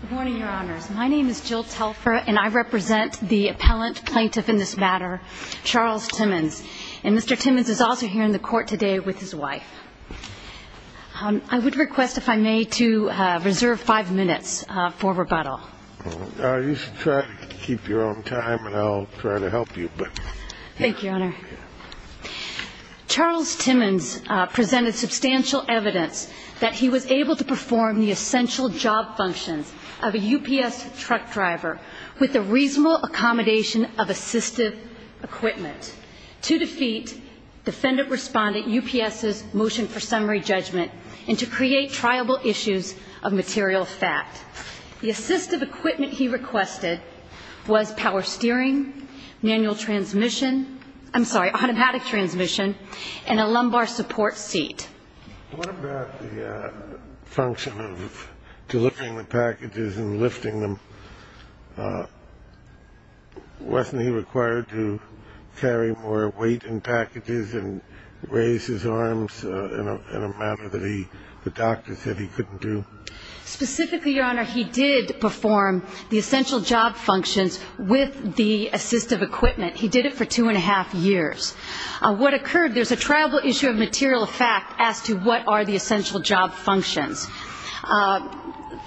Good morning, Your Honors. My name is Jill Telfer, and I represent the appellant plaintiff in this matter, Charles Timmons. And Mr. Timmons is also here in the court today with his wife. I would request, if I may, to reserve five minutes for rebuttal. You should try to keep your own time, and I'll try to help you. Thank you, Your Honor. Charles Timmons presented substantial evidence that he was able to perform the essential job functions of a UPS truck driver with the reasonable accommodation of assistive equipment to defeat defendant-respondent UPS's motion for summary judgment and to create triable issues of material fact. The assistive equipment he requested was power steering, manual transmission I'm sorry, automatic transmission, and a lumbar support seat. What about the function of delivering the packages and lifting them? Wasn't he required to carry more weight in packages and raise his arms in a manner that the doctor said he couldn't do? Specifically, Your Honor, he did perform the essential job functions with the assistive equipment. He did it for two and a half years. What occurred, there's a triable issue of material fact as to what are the essential job functions.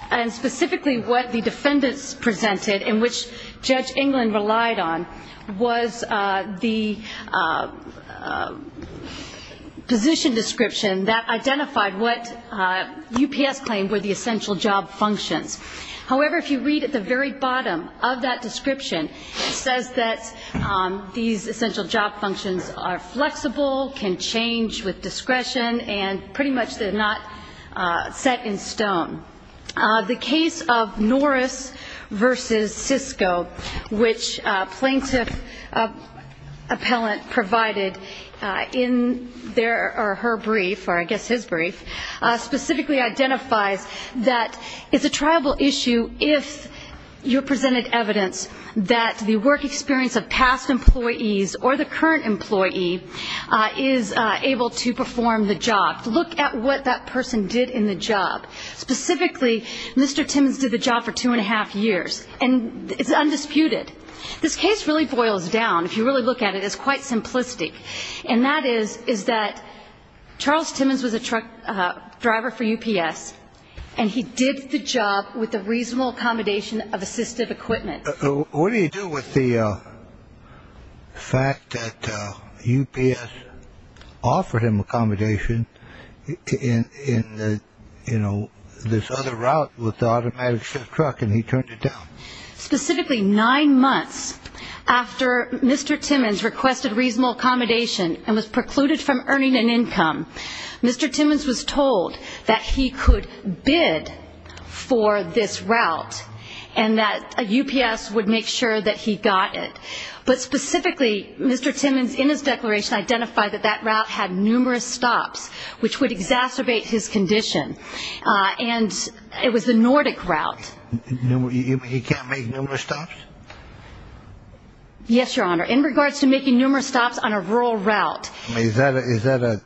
And specifically, what the defendants presented, in which Judge England relied on, was the position description that identified what UPS claimed were the essential job functions. However, if you read at the very bottom of that description, it says that these essential job functions are flexible, can change with discretion, and pretty much they're not set in stone. The case of Norris v. Cisco, which plaintiff appellant provided in their or her brief, or I guess his brief, specifically identifies that it's a triable issue if you presented evidence that the work experience of past employees or the current employee is able to perform the job. Look at what that person did in the job. Specifically, Mr. Timmons did the job for two and a half years, and it's undisputed. This case really boils down, if you really look at it, it's quite simplistic, and that is that Charles Timmons was a truck driver for UPS, and he did the job with the reasonable accommodation of assistive equipment. What do you do with the fact that UPS offered him accommodation in this other route with the automatic shift truck, and he turned it down? Specifically, nine months after Mr. Timmons requested reasonable accommodation and was precluded from earning an income, Mr. Timmons was told that he could bid for this route and that UPS would make sure that he got it. But specifically, Mr. Timmons in his declaration identified that that route had numerous stops, which would exacerbate his condition, and it was the Nordic route. He can't make numerous stops? Yes, Your Honor. In regards to making numerous stops on a rural route. Is that a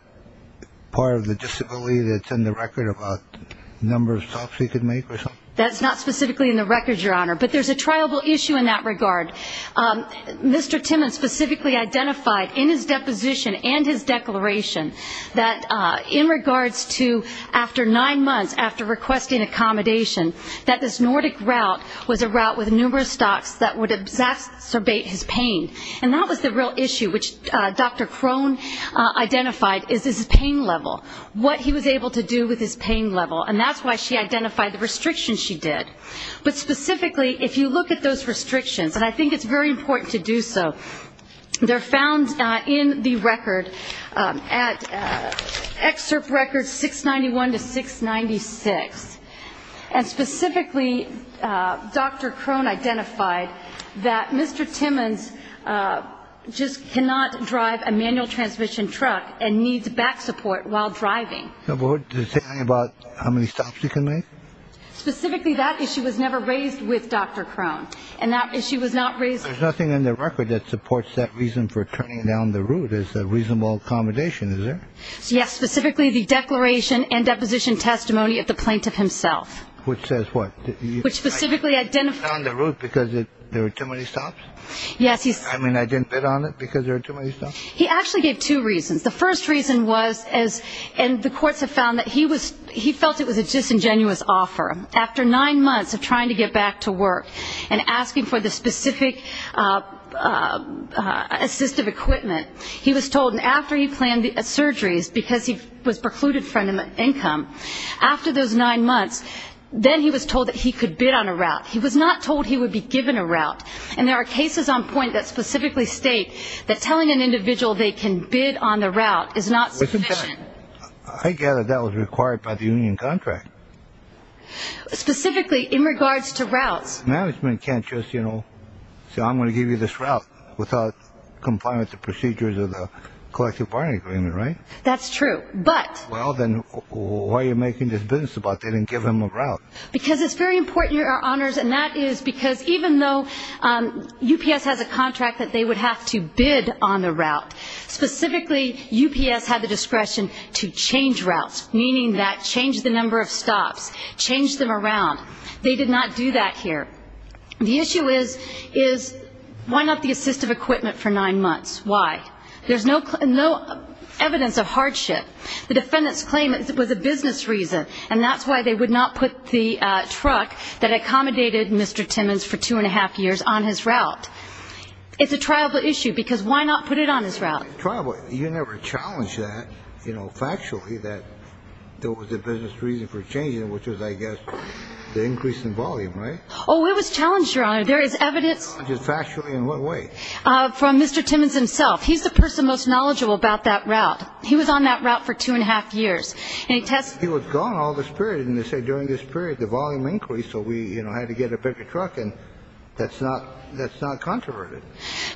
part of the disability that's in the record about the number of stops he could make or something? That's not specifically in the record, Your Honor. But there's a triable issue in that regard. Mr. Timmons specifically identified in his deposition and his declaration that in regards to, after nine months after requesting accommodation, that this Nordic route was a route with numerous stops that would exacerbate his pain. And that was the real issue, which Dr. Crone identified, is his pain level, what he was able to do with his pain level. And that's why she identified the restrictions she did. But specifically, if you look at those restrictions, and I think it's very important to do so, they're found in the record at excerpt records 691 to 696. And specifically, Dr. Crone identified that Mr. Timmons just cannot drive a manual transmission truck and needs back support while driving. Does it say anything about how many stops he can make? Specifically, that issue was never raised with Dr. Crone. And that issue was not raised. There's nothing in the record that supports that reason for turning down the route as a reasonable accommodation, is there? Yes, specifically the declaration and deposition testimony of the plaintiff himself. Which says what? Which specifically identified. I turned down the route because there were too many stops? Yes. I mean, I didn't bid on it because there were too many stops? He actually gave two reasons. The first reason was, and the courts have found that he felt it was a disingenuous offer. After nine months of trying to get back to work and asking for the specific assistive equipment, he was told after he planned the surgeries, because he was precluded from income, after those nine months, then he was told that he could bid on a route. He was not told he would be given a route. And there are cases on point that specifically state that telling an individual they can bid on the route is not sufficient. I gather that was required by the union contract. Specifically in regards to routes. Management can't just, you know, say, I'm going to give you this route, without complying with the procedures of the collective bargaining agreement, right? That's true, but. Well, then why are you making this business about they didn't give him a route? Because it's very important, Your Honors, and that is because even though UPS has a contract that they would have to bid on a route, specifically UPS had the discretion to change routes, meaning that change the number of stops, change them around. They did not do that here. The issue is, why not the assistive equipment for nine months? Why? There's no evidence of hardship. The defendants claim it was a business reason, and that's why they would not put the truck that accommodated Mr. Timmons for two and a half years on his route. It's a tribal issue, because why not put it on his route? Tribal? You never challenged that, you know, factually, that there was a business reason for changing it, which was, I guess, the increase in volume, right? Oh, it was challenged, Your Honor. There is evidence. Just factually in what way? From Mr. Timmons himself. He's the person most knowledgeable about that route. He was on that route for two and a half years. He was gone all this period, and they say during this period the volume increased, so we had to get a bigger truck, and that's not controverted.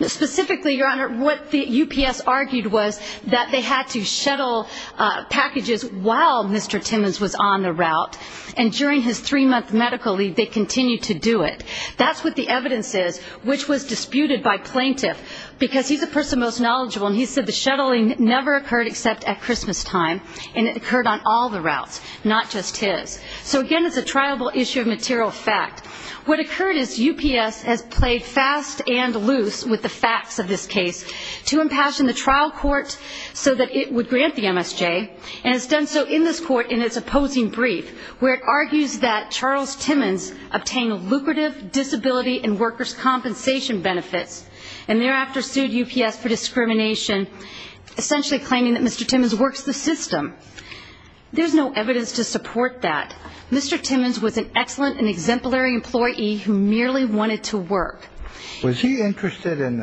Specifically, Your Honor, what the UPS argued was that they had to shuttle packages while Mr. Timmons was on the route, and during his three-month medical leave they continued to do it. That's what the evidence is, which was disputed by plaintiff, because he's the person most knowledgeable, and he said the shuttling never occurred except at Christmastime, and it occurred on all the routes, not just his. So, again, it's a tribal issue of material fact. What occurred is UPS has played fast and loose with the facts of this case to impassion the trial court so that it would grant the MSJ, and it's done so in this court in its opposing brief, where it argues that Charles Timmons obtained lucrative disability and workers' compensation benefits and thereafter sued UPS for discrimination, essentially claiming that Mr. Timmons works the system. There's no evidence to support that. Mr. Timmons was an excellent and exemplary employee who merely wanted to work. Was he interested in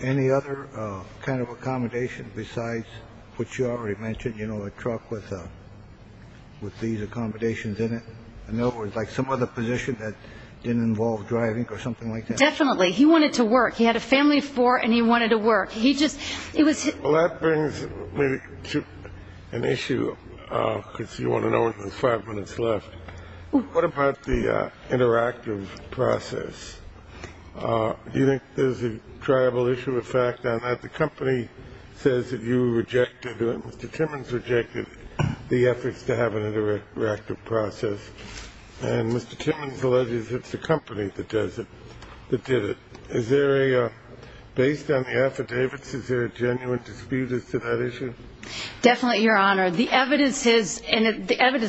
any other kind of accommodation besides what you already mentioned, you know, a truck with these accommodations in it, in other words, like some other position that didn't involve driving or something like that? No, definitely. He wanted to work. He had a family of four, and he wanted to work. Well, that brings me to an issue, because you want to know when there's five minutes left. What about the interactive process? Do you think there's a tribal issue of fact on that? The company says that you rejected, Mr. Timmons rejected the efforts to have an interactive process, and Mr. Timmons alleges it's the company that did it. Based on the affidavits, is there a genuine dispute as to that issue? Definitely, Your Honor. The evidence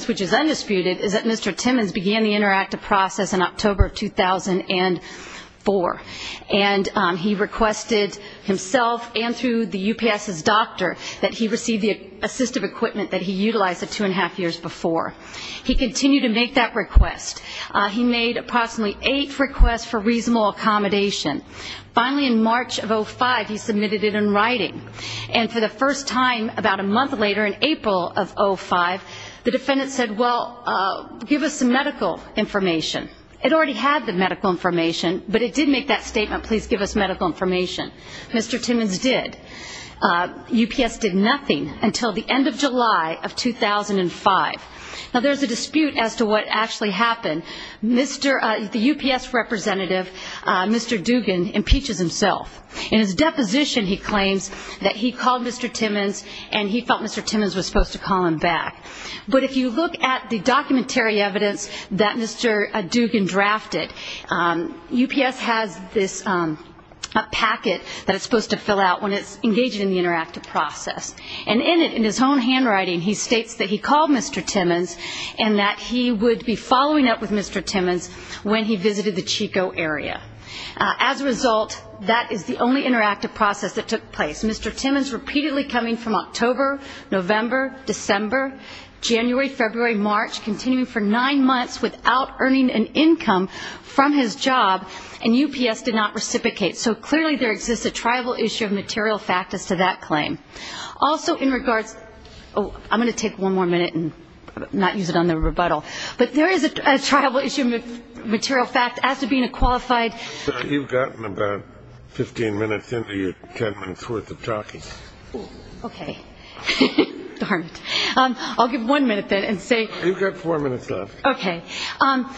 which is undisputed is that Mr. Timmons began the interactive process in October of 2004, and he requested himself and through the UPS's doctor that he receive the assistive equipment that he utilized the two-and-a-half years before. He continued to make that request. He made approximately eight requests for reasonable accommodation. Finally, in March of 2005, he submitted it in writing. And for the first time about a month later, in April of 2005, the defendant said, well, give us some medical information. It already had the medical information, but it did make that statement, please give us medical information. Mr. Timmons did. UPS did nothing until the end of July of 2005. Now, there's a dispute as to what actually happened. The UPS representative, Mr. Dugan, impeaches himself. In his deposition, he claims that he called Mr. Timmons and he felt Mr. Timmons was supposed to call him back. But if you look at the documentary evidence that Mr. Dugan drafted, UPS has this packet that it's supposed to fill out when it's engaged in the interactive process. And in it, in his own handwriting, he states that he called Mr. Timmons and that he would be following up with Mr. Timmons when he visited the Chico area. As a result, that is the only interactive process that took place. Mr. Timmons repeatedly coming from October, November, December, January, February, March, continuing for nine months without earning an income from his job. And UPS did not reciprocate. So clearly there exists a tribal issue of material fact as to that claim. Also in regards to – I'm going to take one more minute and not use it on the rebuttal. But there is a tribal issue of material fact as to being a qualified – You've gotten about 15 minutes into your 10 minutes' worth of talking. Okay. Darn it. I'll give one minute then and say – You've got four minutes left. Okay.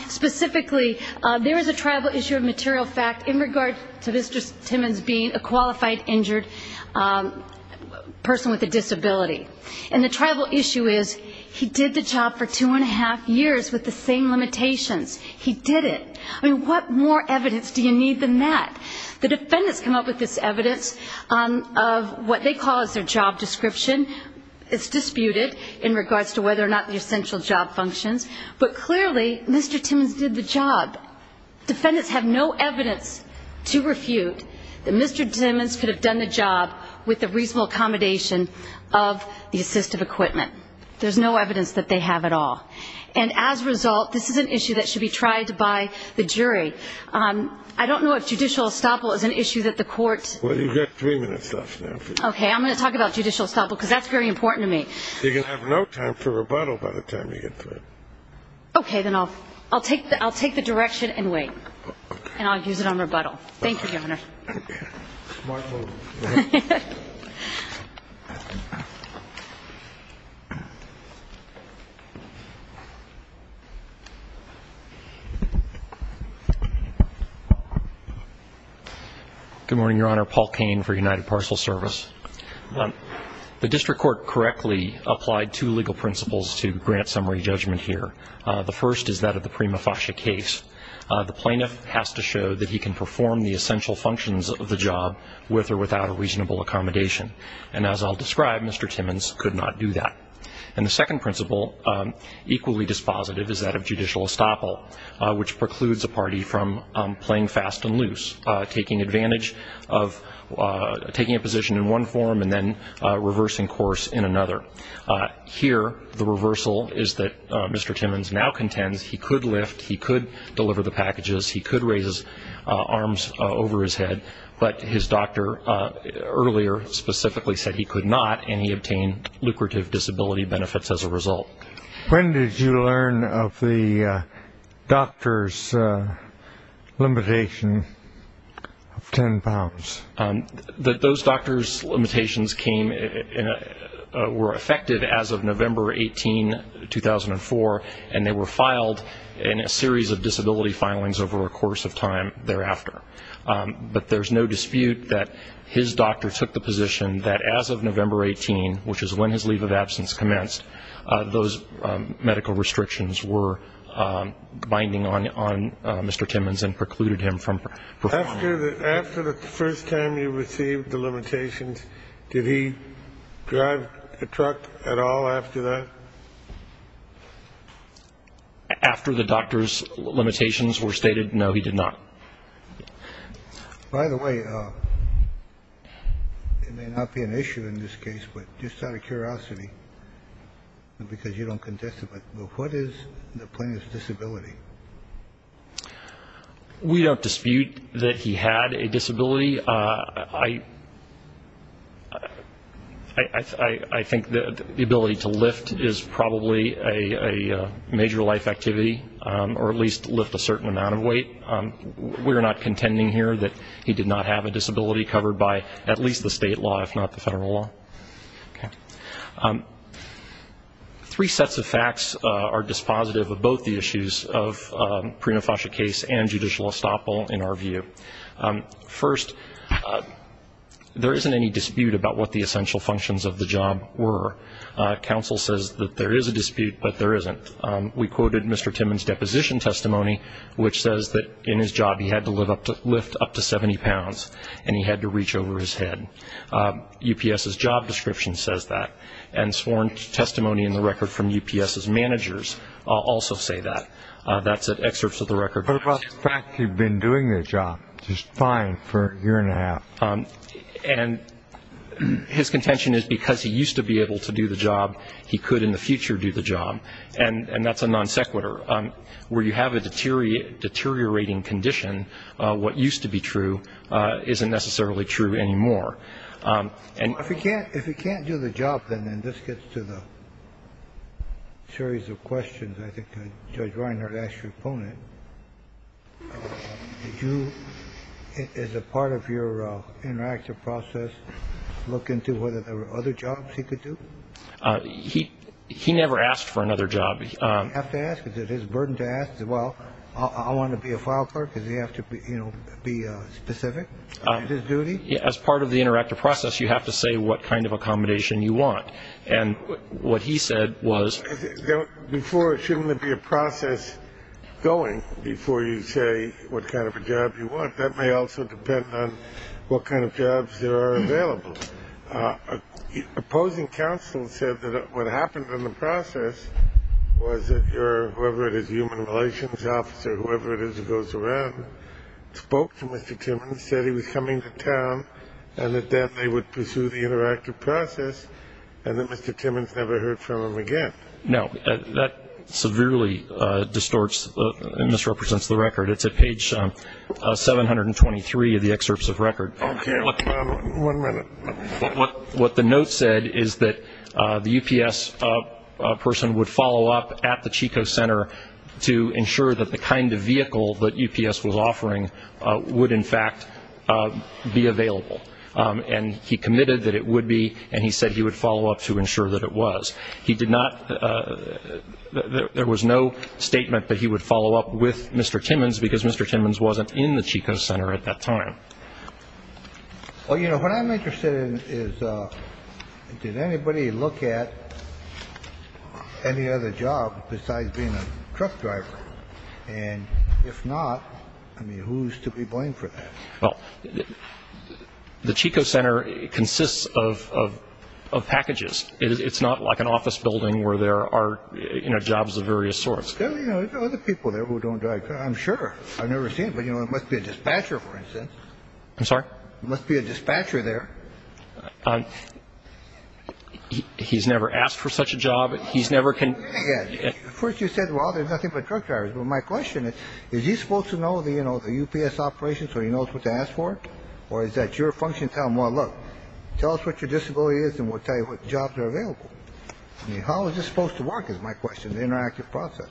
Specifically, there is a tribal issue of material fact in regard to Mr. Timmons being a qualified injured person with a disability. And the tribal issue is he did the job for two and a half years with the same limitations. He did it. I mean, what more evidence do you need than that? The defendants come up with this evidence of what they call is their job description. It's disputed in regards to whether or not the essential job functions. But clearly, Mr. Timmons did the job. Defendants have no evidence to refute that Mr. Timmons could have done the job with the reasonable accommodation of the assistive equipment. There's no evidence that they have at all. And as a result, this is an issue that should be tried by the jury. I don't know if judicial estoppel is an issue that the court – Well, you've got three minutes left now. Okay. I'm going to talk about judicial estoppel because that's very important to me. You're going to have no time for rebuttal by the time you get to it. Okay. Then I'll take the direction and wait. And I'll use it on rebuttal. Thank you, Governor. Smart move. Go ahead. Good morning, Your Honor. Paul Kane for United Parcel Service. The district court correctly applied two legal principles to grant summary judgment here. The first is that of the prima facie case. The plaintiff has to show that he can perform the essential functions of the job with or without a reasonable accommodation. And as I'll describe, Mr. Timmons could not do that. And the second principle, equally dispositive, is that of judicial estoppel, which precludes a party from playing fast and loose, taking advantage of taking a position in one form and then reversing course in another. Here, the reversal is that Mr. Timmons now contends he could lift, he could deliver the packages, he could raise his arms over his head, but his doctor earlier specifically said he could not, and he obtained lucrative disability benefits as a result. When did you learn of the doctor's limitation of ten pounds? Those doctor's limitations were effective as of November 18, 2004, and they were filed in a series of disability filings over a course of time thereafter. But there's no dispute that his doctor took the position that as of November 18, which is when his leave of absence commenced, those medical restrictions were binding on Mr. Timmons and precluded him from performing. After the first time you received the limitations, did he drive a truck at all after that? After the doctor's limitations were stated, no, he did not. By the way, it may not be an issue in this case, but just out of curiosity, because you don't contest it, but what is the plaintiff's disability? We don't dispute that he had a disability. I think that the ability to lift is probably a major life activity, or at least lift a certain amount of weight. We're not contending here that he did not have a disability covered by at least the state law, if not the federal law. Three sets of facts are dispositive of both the issues of Prenofosha case and judicial estoppel in our view. First, there isn't any dispute about what the essential functions of the job were. Counsel says that there is a dispute, but there isn't. We quoted Mr. Timmons' deposition testimony, which says that in his job he had to lift up to 70 pounds and he had to reach over his head. UPS's job description says that, and sworn testimony in the record from UPS's managers also say that. That's at excerpts of the record. What about the fact he'd been doing the job just fine for a year and a half? And his contention is because he used to be able to do the job, he could in the future do the job. And that's a non sequitur. Where you have a deteriorating condition, what used to be true isn't necessarily true anymore. If he can't do the job, then this gets to the series of questions I think Judge Reinhardt asked your opponent. Did you, as a part of your interactive process, look into whether there were other jobs he could do? He never asked for another job. Did he have to ask? Is it his burden to ask? Well, I want to be a file clerk. Does he have to be specific in his duty? As part of the interactive process, you have to say what kind of accommodation you want. And what he said was... Before, shouldn't there be a process going before you say what kind of a job you want? That may also depend on what kind of jobs there are available. Opposing counsel said that what happened in the process was that your, whoever it is, human relations officer, whoever it is that goes around, spoke to Mr. Timmons, said he was coming to town, and that they would pursue the interactive process, and that Mr. Timmons never heard from him again. No. That severely distorts and misrepresents the record. It's at page 723 of the excerpts of record. Okay. One minute. What the note said is that the UPS person would follow up at the Chico Center to ensure that the kind of vehicle that UPS was offering would, in fact, be available. And he committed that it would be, and he said he would follow up to ensure that it was. He did not, there was no statement that he would follow up with Mr. Timmons because Mr. Timmons wasn't in the Chico Center at that time. Well, you know, what I'm interested in is did anybody look at any other job besides being a truck driver? And if not, I mean, who's to be blamed for that? Well, the Chico Center consists of packages. It's not like an office building where there are, you know, jobs of various sorts. There are other people there who don't drive. I'm sure. I've never seen it, but, you know, there must be a dispatcher, for instance. I'm sorry? There must be a dispatcher there. He's never asked for such a job. He's never been. First you said, well, there's nothing but truck drivers. Well, my question is, is he supposed to know the UPS operations so he knows what to ask for? Or is that your function to tell him, well, look, tell us what your disability is and we'll tell you what jobs are available? I mean, how is this supposed to work, is my question, the interactive process?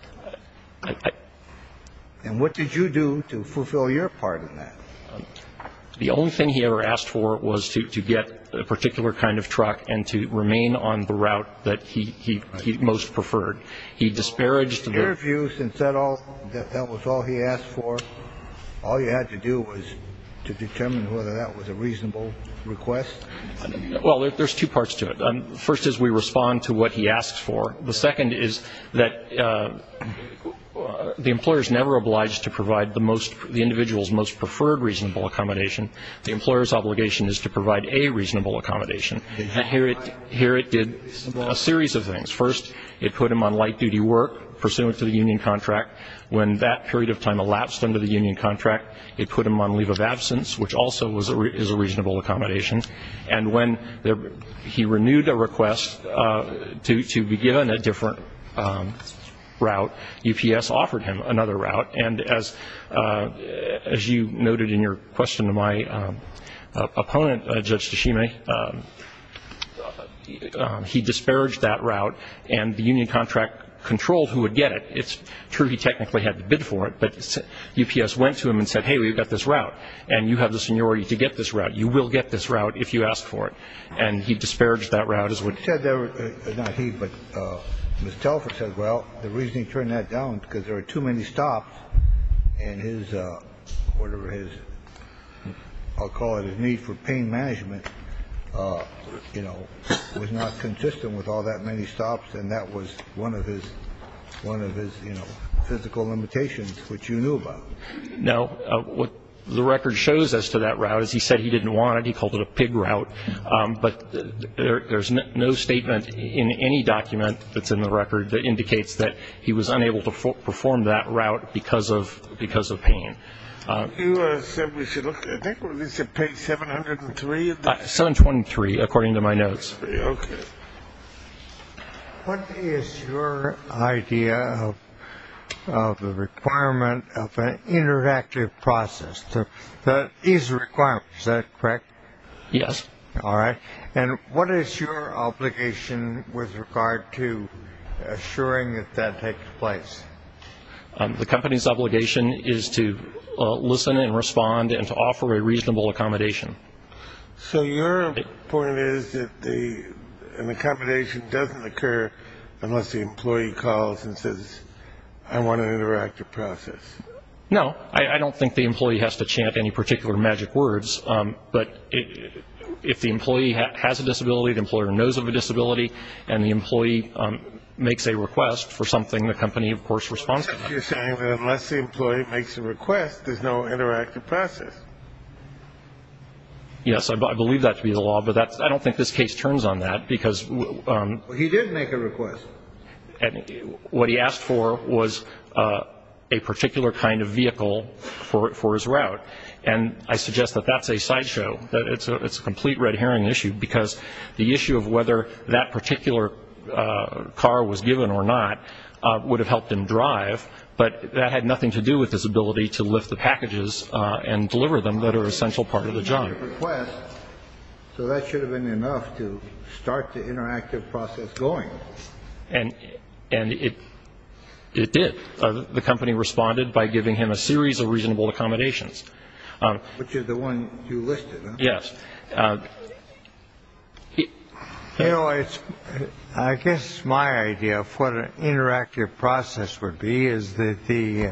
And what did you do to fulfill your part in that? The only thing he ever asked for was to get a particular kind of truck and to remain on the route that he most preferred. He disparaged the- He interviewed you and said that was all he asked for. All you had to do was to determine whether that was a reasonable request. Well, there's two parts to it. First is we respond to what he asks for. The second is that the employer is never obliged to provide the individual's most preferred reasonable accommodation. The employer's obligation is to provide a reasonable accommodation. Here it did a series of things. First, it put him on light-duty work pursuant to the union contract. When that period of time elapsed under the union contract, it put him on leave of absence, which also is a reasonable accommodation. And when he renewed a request to be given a different route, UPS offered him another route. And as you noted in your question to my opponent, Judge Tashime, he disparaged that route, and the union contract controlled who would get it. It's true he technically had to bid for it, but UPS went to him and said, Hey, we've got this route, and you have the seniority to get this route. You will get this route if you ask for it. And he disparaged that route. Not he, but Ms. Telford said, well, the reason he turned that down is because there are too many stops, and his, whatever his, I'll call it his need for pain management, you know, was not consistent with all that many stops, and that was one of his, you know, physical limitations, which you knew about. Now, what the record shows as to that route is he said he didn't want it. He called it a pig route. But there's no statement in any document that's in the record that indicates that he was unable to perform that route because of pain. You said we should look at, I think this is page 703. 723, according to my notes. Okay. What is your idea of the requirement of an interactive process that is a requirement? Is that correct? Yes. All right. And what is your obligation with regard to assuring that that takes place? The company's obligation is to listen and respond and to offer a reasonable accommodation. So your point is that an accommodation doesn't occur unless the employee calls and says, I want an interactive process. No. I don't think the employee has to chant any particular magic words, but if the employee has a disability, the employer knows of a disability, and the employee makes a request for something, the company, of course, responds to that. Well, unless the employee makes a request, there's no interactive process. Yes. I believe that to be the law, but I don't think this case turns on that. He did make a request. What he asked for was a particular kind of vehicle for his route. And I suggest that that's a sideshow, that it's a complete red herring issue, because the issue of whether that particular car was given or not would have helped him drive. But that had nothing to do with his ability to lift the packages and deliver them that are an essential part of the job. He made a request, so that should have been enough to start the interactive process going. And it did. The company responded by giving him a series of reasonable accommodations. Which is the one you listed, huh? Yes. You know, I guess my idea of what an interactive process would be is that the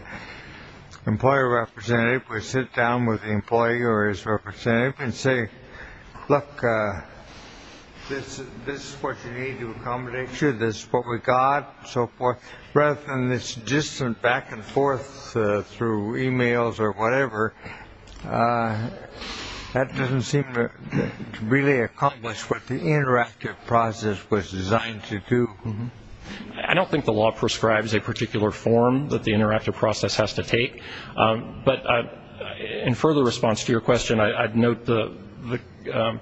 employer representative would sit down with the employee or his representative and say, look, this is what you need to accommodate you, this is what we got, so forth. Rather than this distant back and forth through e-mails or whatever, that doesn't seem to really accomplish what the interactive process was designed to do. I don't think the law prescribes a particular form that the interactive process has to take. But in further response to your question, I'd note the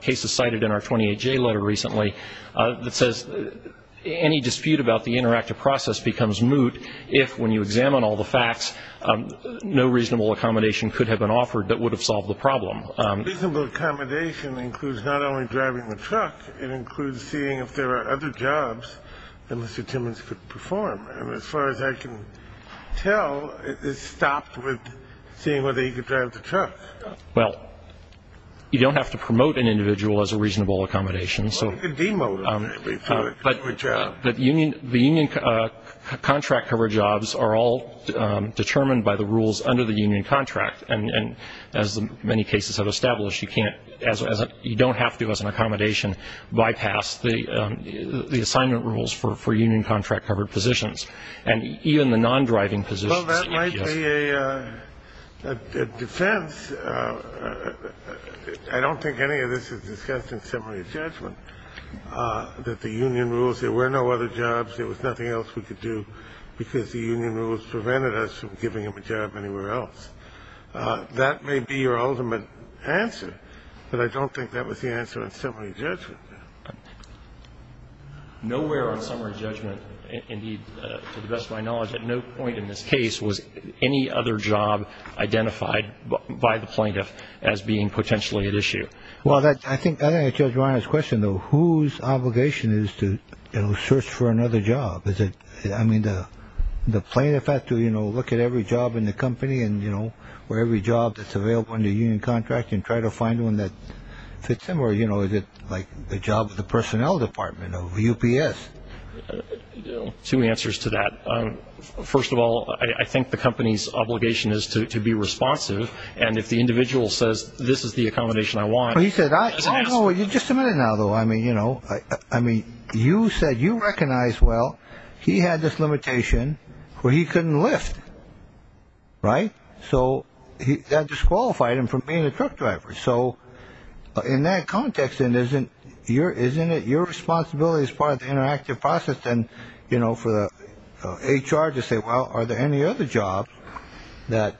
cases cited in our 28-J letter recently that says, any dispute about the interactive process becomes moot if, when you examine all the facts, no reasonable accommodation could have been offered that would have solved the problem. Reasonable accommodation includes not only driving the truck, it includes seeing if there are other jobs that Mr. Timmons could perform. And as far as I can tell, it's stopped with seeing whether he could drive the truck. Well, you don't have to promote an individual as a reasonable accommodation. Or you could demote him, maybe, for a job. The union contract-covered jobs are all determined by the rules under the union contract. And as many cases have established, you don't have to, as an accommodation, bypass the assignment rules for union contract-covered positions. And even the non-driving positions. Well, that might be a defense. I don't think any of this is discussed in summary judgment, that the union rules, there were no other jobs, there was nothing else we could do, because the union rules prevented us from giving him a job anywhere else. That may be your ultimate answer, but I don't think that was the answer in summary judgment. Nowhere on summary judgment, indeed, to the best of my knowledge, at no point in this case was any other job identified by the plaintiff as being potentially at issue. Well, I think that answers Ron's question, though. Whose obligation is to search for another job? I mean, the plaintiff has to look at every job in the company or every job that's available under union contract and try to find one that fits him, or is it like the job of the personnel department or UPS? Two answers to that. First of all, I think the company's obligation is to be responsive. And if the individual says, this is the accommodation I want, that's an answer. Just a minute now, though. I mean, you said you recognized, well, he had this limitation where he couldn't lift, right? So that disqualified him from being a truck driver. So in that context, isn't it your responsibility as part of the interactive process, then, you know, for the HR to say, well, are there any other jobs that,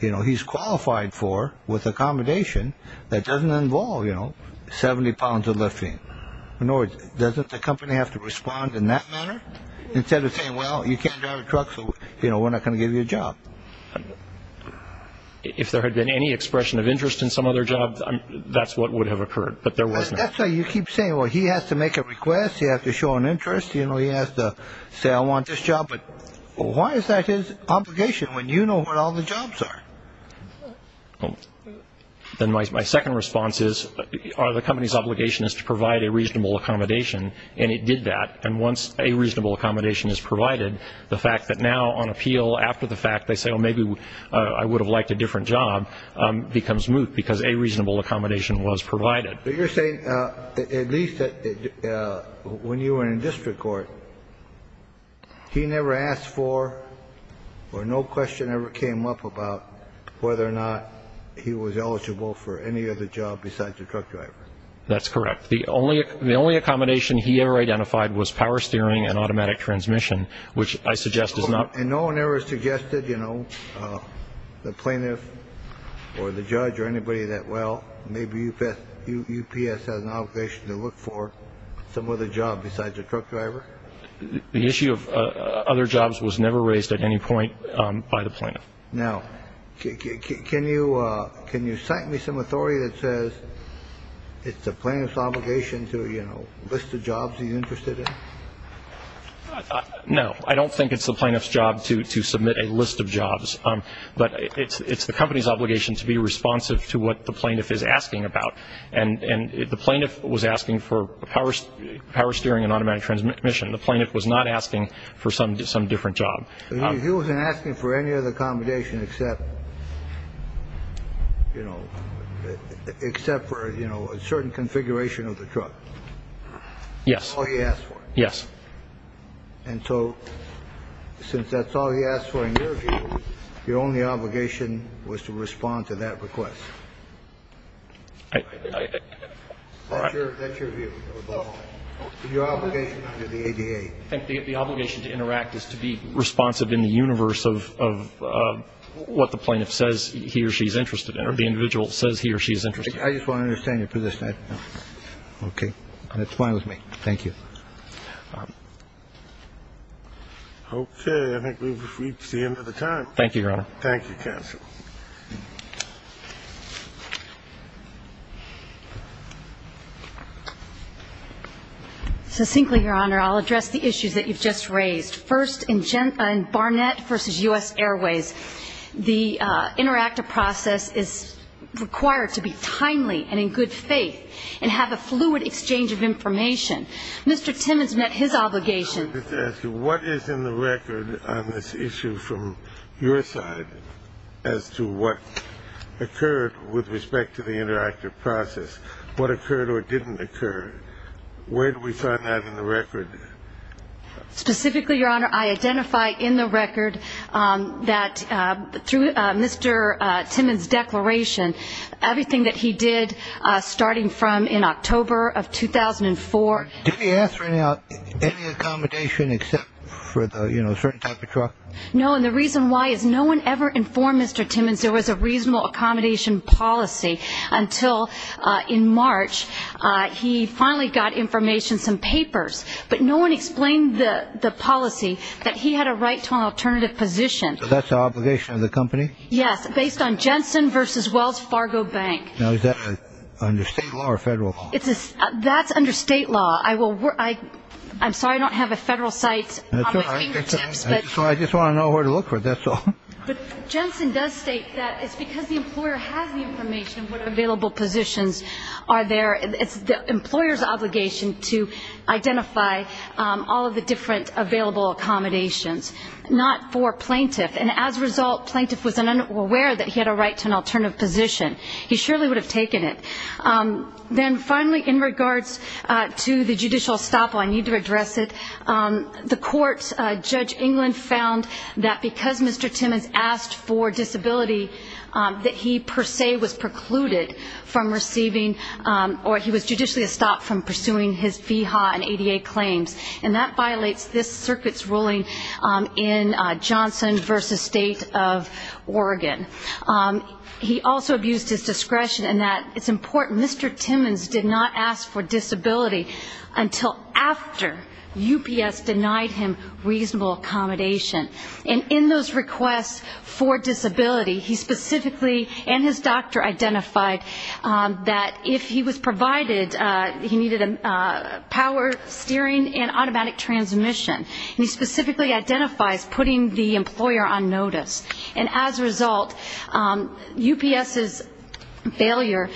you know, he's qualified for with accommodation that doesn't involve, you know, 70 pounds of lifting? In other words, doesn't the company have to respond in that manner? Instead of saying, well, you can't drive a truck, so, you know, we're not going to give you a job. If there had been any expression of interest in some other job, that's what would have occurred. But there wasn't. That's why you keep saying, well, he has to make a request. You have to show an interest. You know, he has to say, I want this job. But why is that his obligation when you know what all the jobs are? Then my second response is, the company's obligation is to provide a reasonable accommodation. And it did that. And once a reasonable accommodation is provided, the fact that now on appeal, after the fact they say, oh, maybe I would have liked a different job, becomes moot because a reasonable accommodation was provided. But you're saying at least when you were in district court, he never asked for or no question ever came up about whether or not he was eligible for any other job besides a truck driver. That's correct. The only accommodation he ever identified was power steering and automatic transmission, which I suggest is not. And no one ever suggested, you know, the plaintiff or the judge or anybody that, well, maybe UPS has an obligation to look for some other job besides a truck driver? The issue of other jobs was never raised at any point by the plaintiff. Now, can you cite me some authority that says it's the plaintiff's obligation to, you know, list the jobs he's interested in? No. I don't think it's the plaintiff's job to submit a list of jobs. But it's the company's obligation to be responsive to what the plaintiff is asking about. And the plaintiff was asking for power steering and automatic transmission. The plaintiff was not asking for some different job. He wasn't asking for any other accommodation except, you know, except for a certain configuration of the truck. Yes. That's all he asked for. Yes. And so since that's all he asked for in your view, your only obligation was to respond to that request. That's your view. Your obligation under the ADA. I think the obligation to interact is to be responsive in the universe of what the plaintiff says he or she is interested in or the individual says he or she is interested in. I just want to understand your position. Okay. That's fine with me. Thank you. Okay. I think we've reached the end of the time. Thank you, Your Honor. Thank you, counsel. Succinctly, Your Honor, I'll address the issues that you've just raised. First, in Barnett v. U.S. Airways, the interactive process is required to be timely and in good faith and have a fluid exchange of information. Mr. Timmons met his obligation. What is in the record on this issue from your side as to what occurred with respect to the interactive process? What occurred or didn't occur? Where do we find that in the record? Specifically, Your Honor, I identify in the record that through Mr. Timmons' declaration, everything that he did starting from in October of 2004. Did he ask for any accommodation except for a certain type of truck? No, and the reason why is no one ever informed Mr. Timmons there was a reasonable accommodation policy until in March he finally got information, some papers, but no one explained the policy that he had a right to an alternative position. So that's the obligation of the company? Yes, based on Jensen v. Wells Fargo Bank. Now, is that under state law or federal law? That's under state law. I'm sorry I don't have a federal site on my fingertips. That's all right. I just want to know where to look for it. That's all. But Jensen does state that it's because the employer has the information of what available positions are there. It's the employer's obligation to identify all of the different available accommodations, not for plaintiff, and as a result, plaintiff was unaware that he had a right to an alternative position. He surely would have taken it. Then finally, in regards to the judicial estoppel, I need to address it. The court, Judge England, found that because Mr. Timmons asked for disability, that he per se was precluded from receiving or he was judicially estopped from pursuing his VHA and ADA claims, and that violates this circuit's ruling in Johnson v. State of Oregon. He also abused his discretion in that it's important Mr. Timmons did not ask for disability until after UPS denied him reasonable accommodation. And in those requests for disability, he specifically and his doctor identified that if he was provided, he needed power, steering, and automatic transmission. And he specifically identifies putting the employer on notice. And as a result, UPS's failure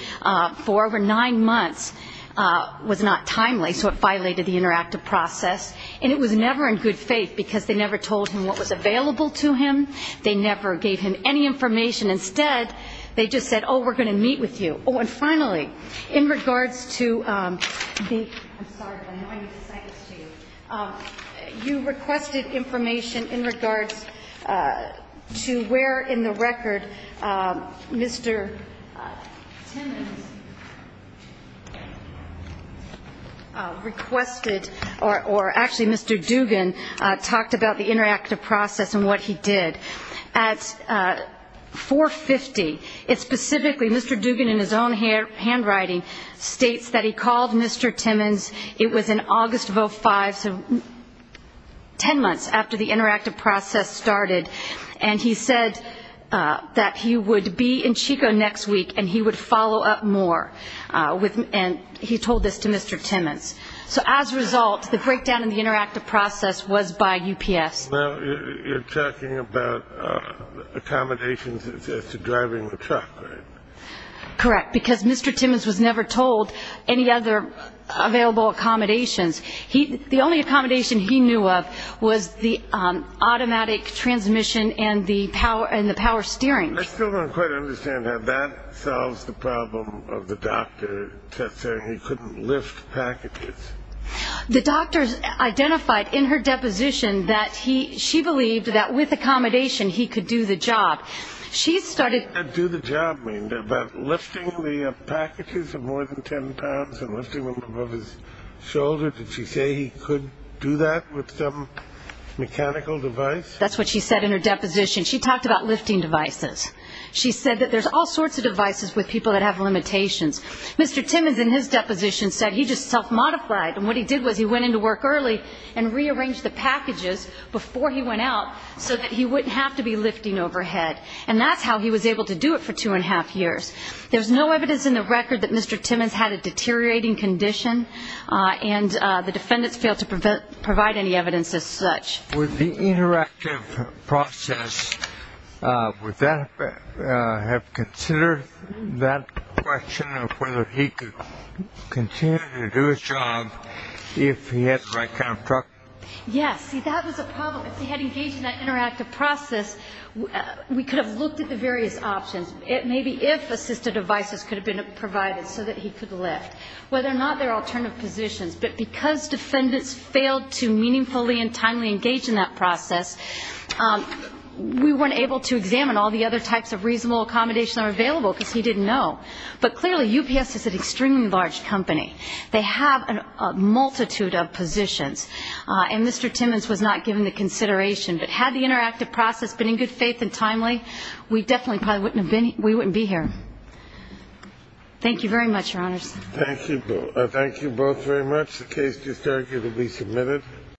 for over nine months was not timely, so it violated the interactive process. And it was never in good faith, because they never told him what was available to him. They never gave him any information. Instead, they just said, oh, we're going to meet with you. Oh, and finally, in regards to the ‑‑ I'm sorry. I know I need to cite this to you. You requested information in regards to where in the record Mr. Timmons requested or actually Mr. Dugan talked about the interactive process and what he did. At 4.50, it's specifically Mr. Dugan in his own handwriting states that he called Mr. Timmons. It was in August of 2005, so ten months after the interactive process started. And he said that he would be in Chico next week and he would follow up more. And he told this to Mr. Timmons. So as a result, the breakdown in the interactive process was by UPS. Well, you're talking about accommodations as to driving the truck, right? Correct, because Mr. Timmons was never told any other available accommodations. The only accommodation he knew of was the automatic transmission and the power steering. I still don't quite understand how that solves the problem of the doctor saying he couldn't lift packages. The doctor identified in her deposition that she believed that with accommodation he could do the job. What does do the job mean? About lifting the packages of more than ten pounds and lifting them above his shoulder? Did she say he could do that with some mechanical device? That's what she said in her deposition. She talked about lifting devices. She said that there's all sorts of devices with people that have limitations. Mr. Timmons in his deposition said he just self-modified, and what he did was he went into work early and rearranged the packages before he went out so that he wouldn't have to be lifting overhead. And that's how he was able to do it for two and a half years. There's no evidence in the record that Mr. Timmons had a deteriorating condition, and the defendants failed to provide any evidence as such. With the interactive process, would that have considered that question of whether he could continue to do his job if he had the right kind of truck? Yes. See, that was a problem. If he had engaged in that interactive process, we could have looked at the various options, maybe if assistive devices could have been provided so that he could lift, whether or not there are alternative positions. But because defendants failed to meaningfully and timely engage in that process, we weren't able to examine all the other types of reasonable accommodations that were available because he didn't know. But clearly, UPS is an extremely large company. They have a multitude of positions, and Mr. Timmons was not given the consideration. But had the interactive process been in good faith and timely, we definitely probably wouldn't be here. Thank you very much, Your Honors. Thank you both very much. The case is arguably submitted.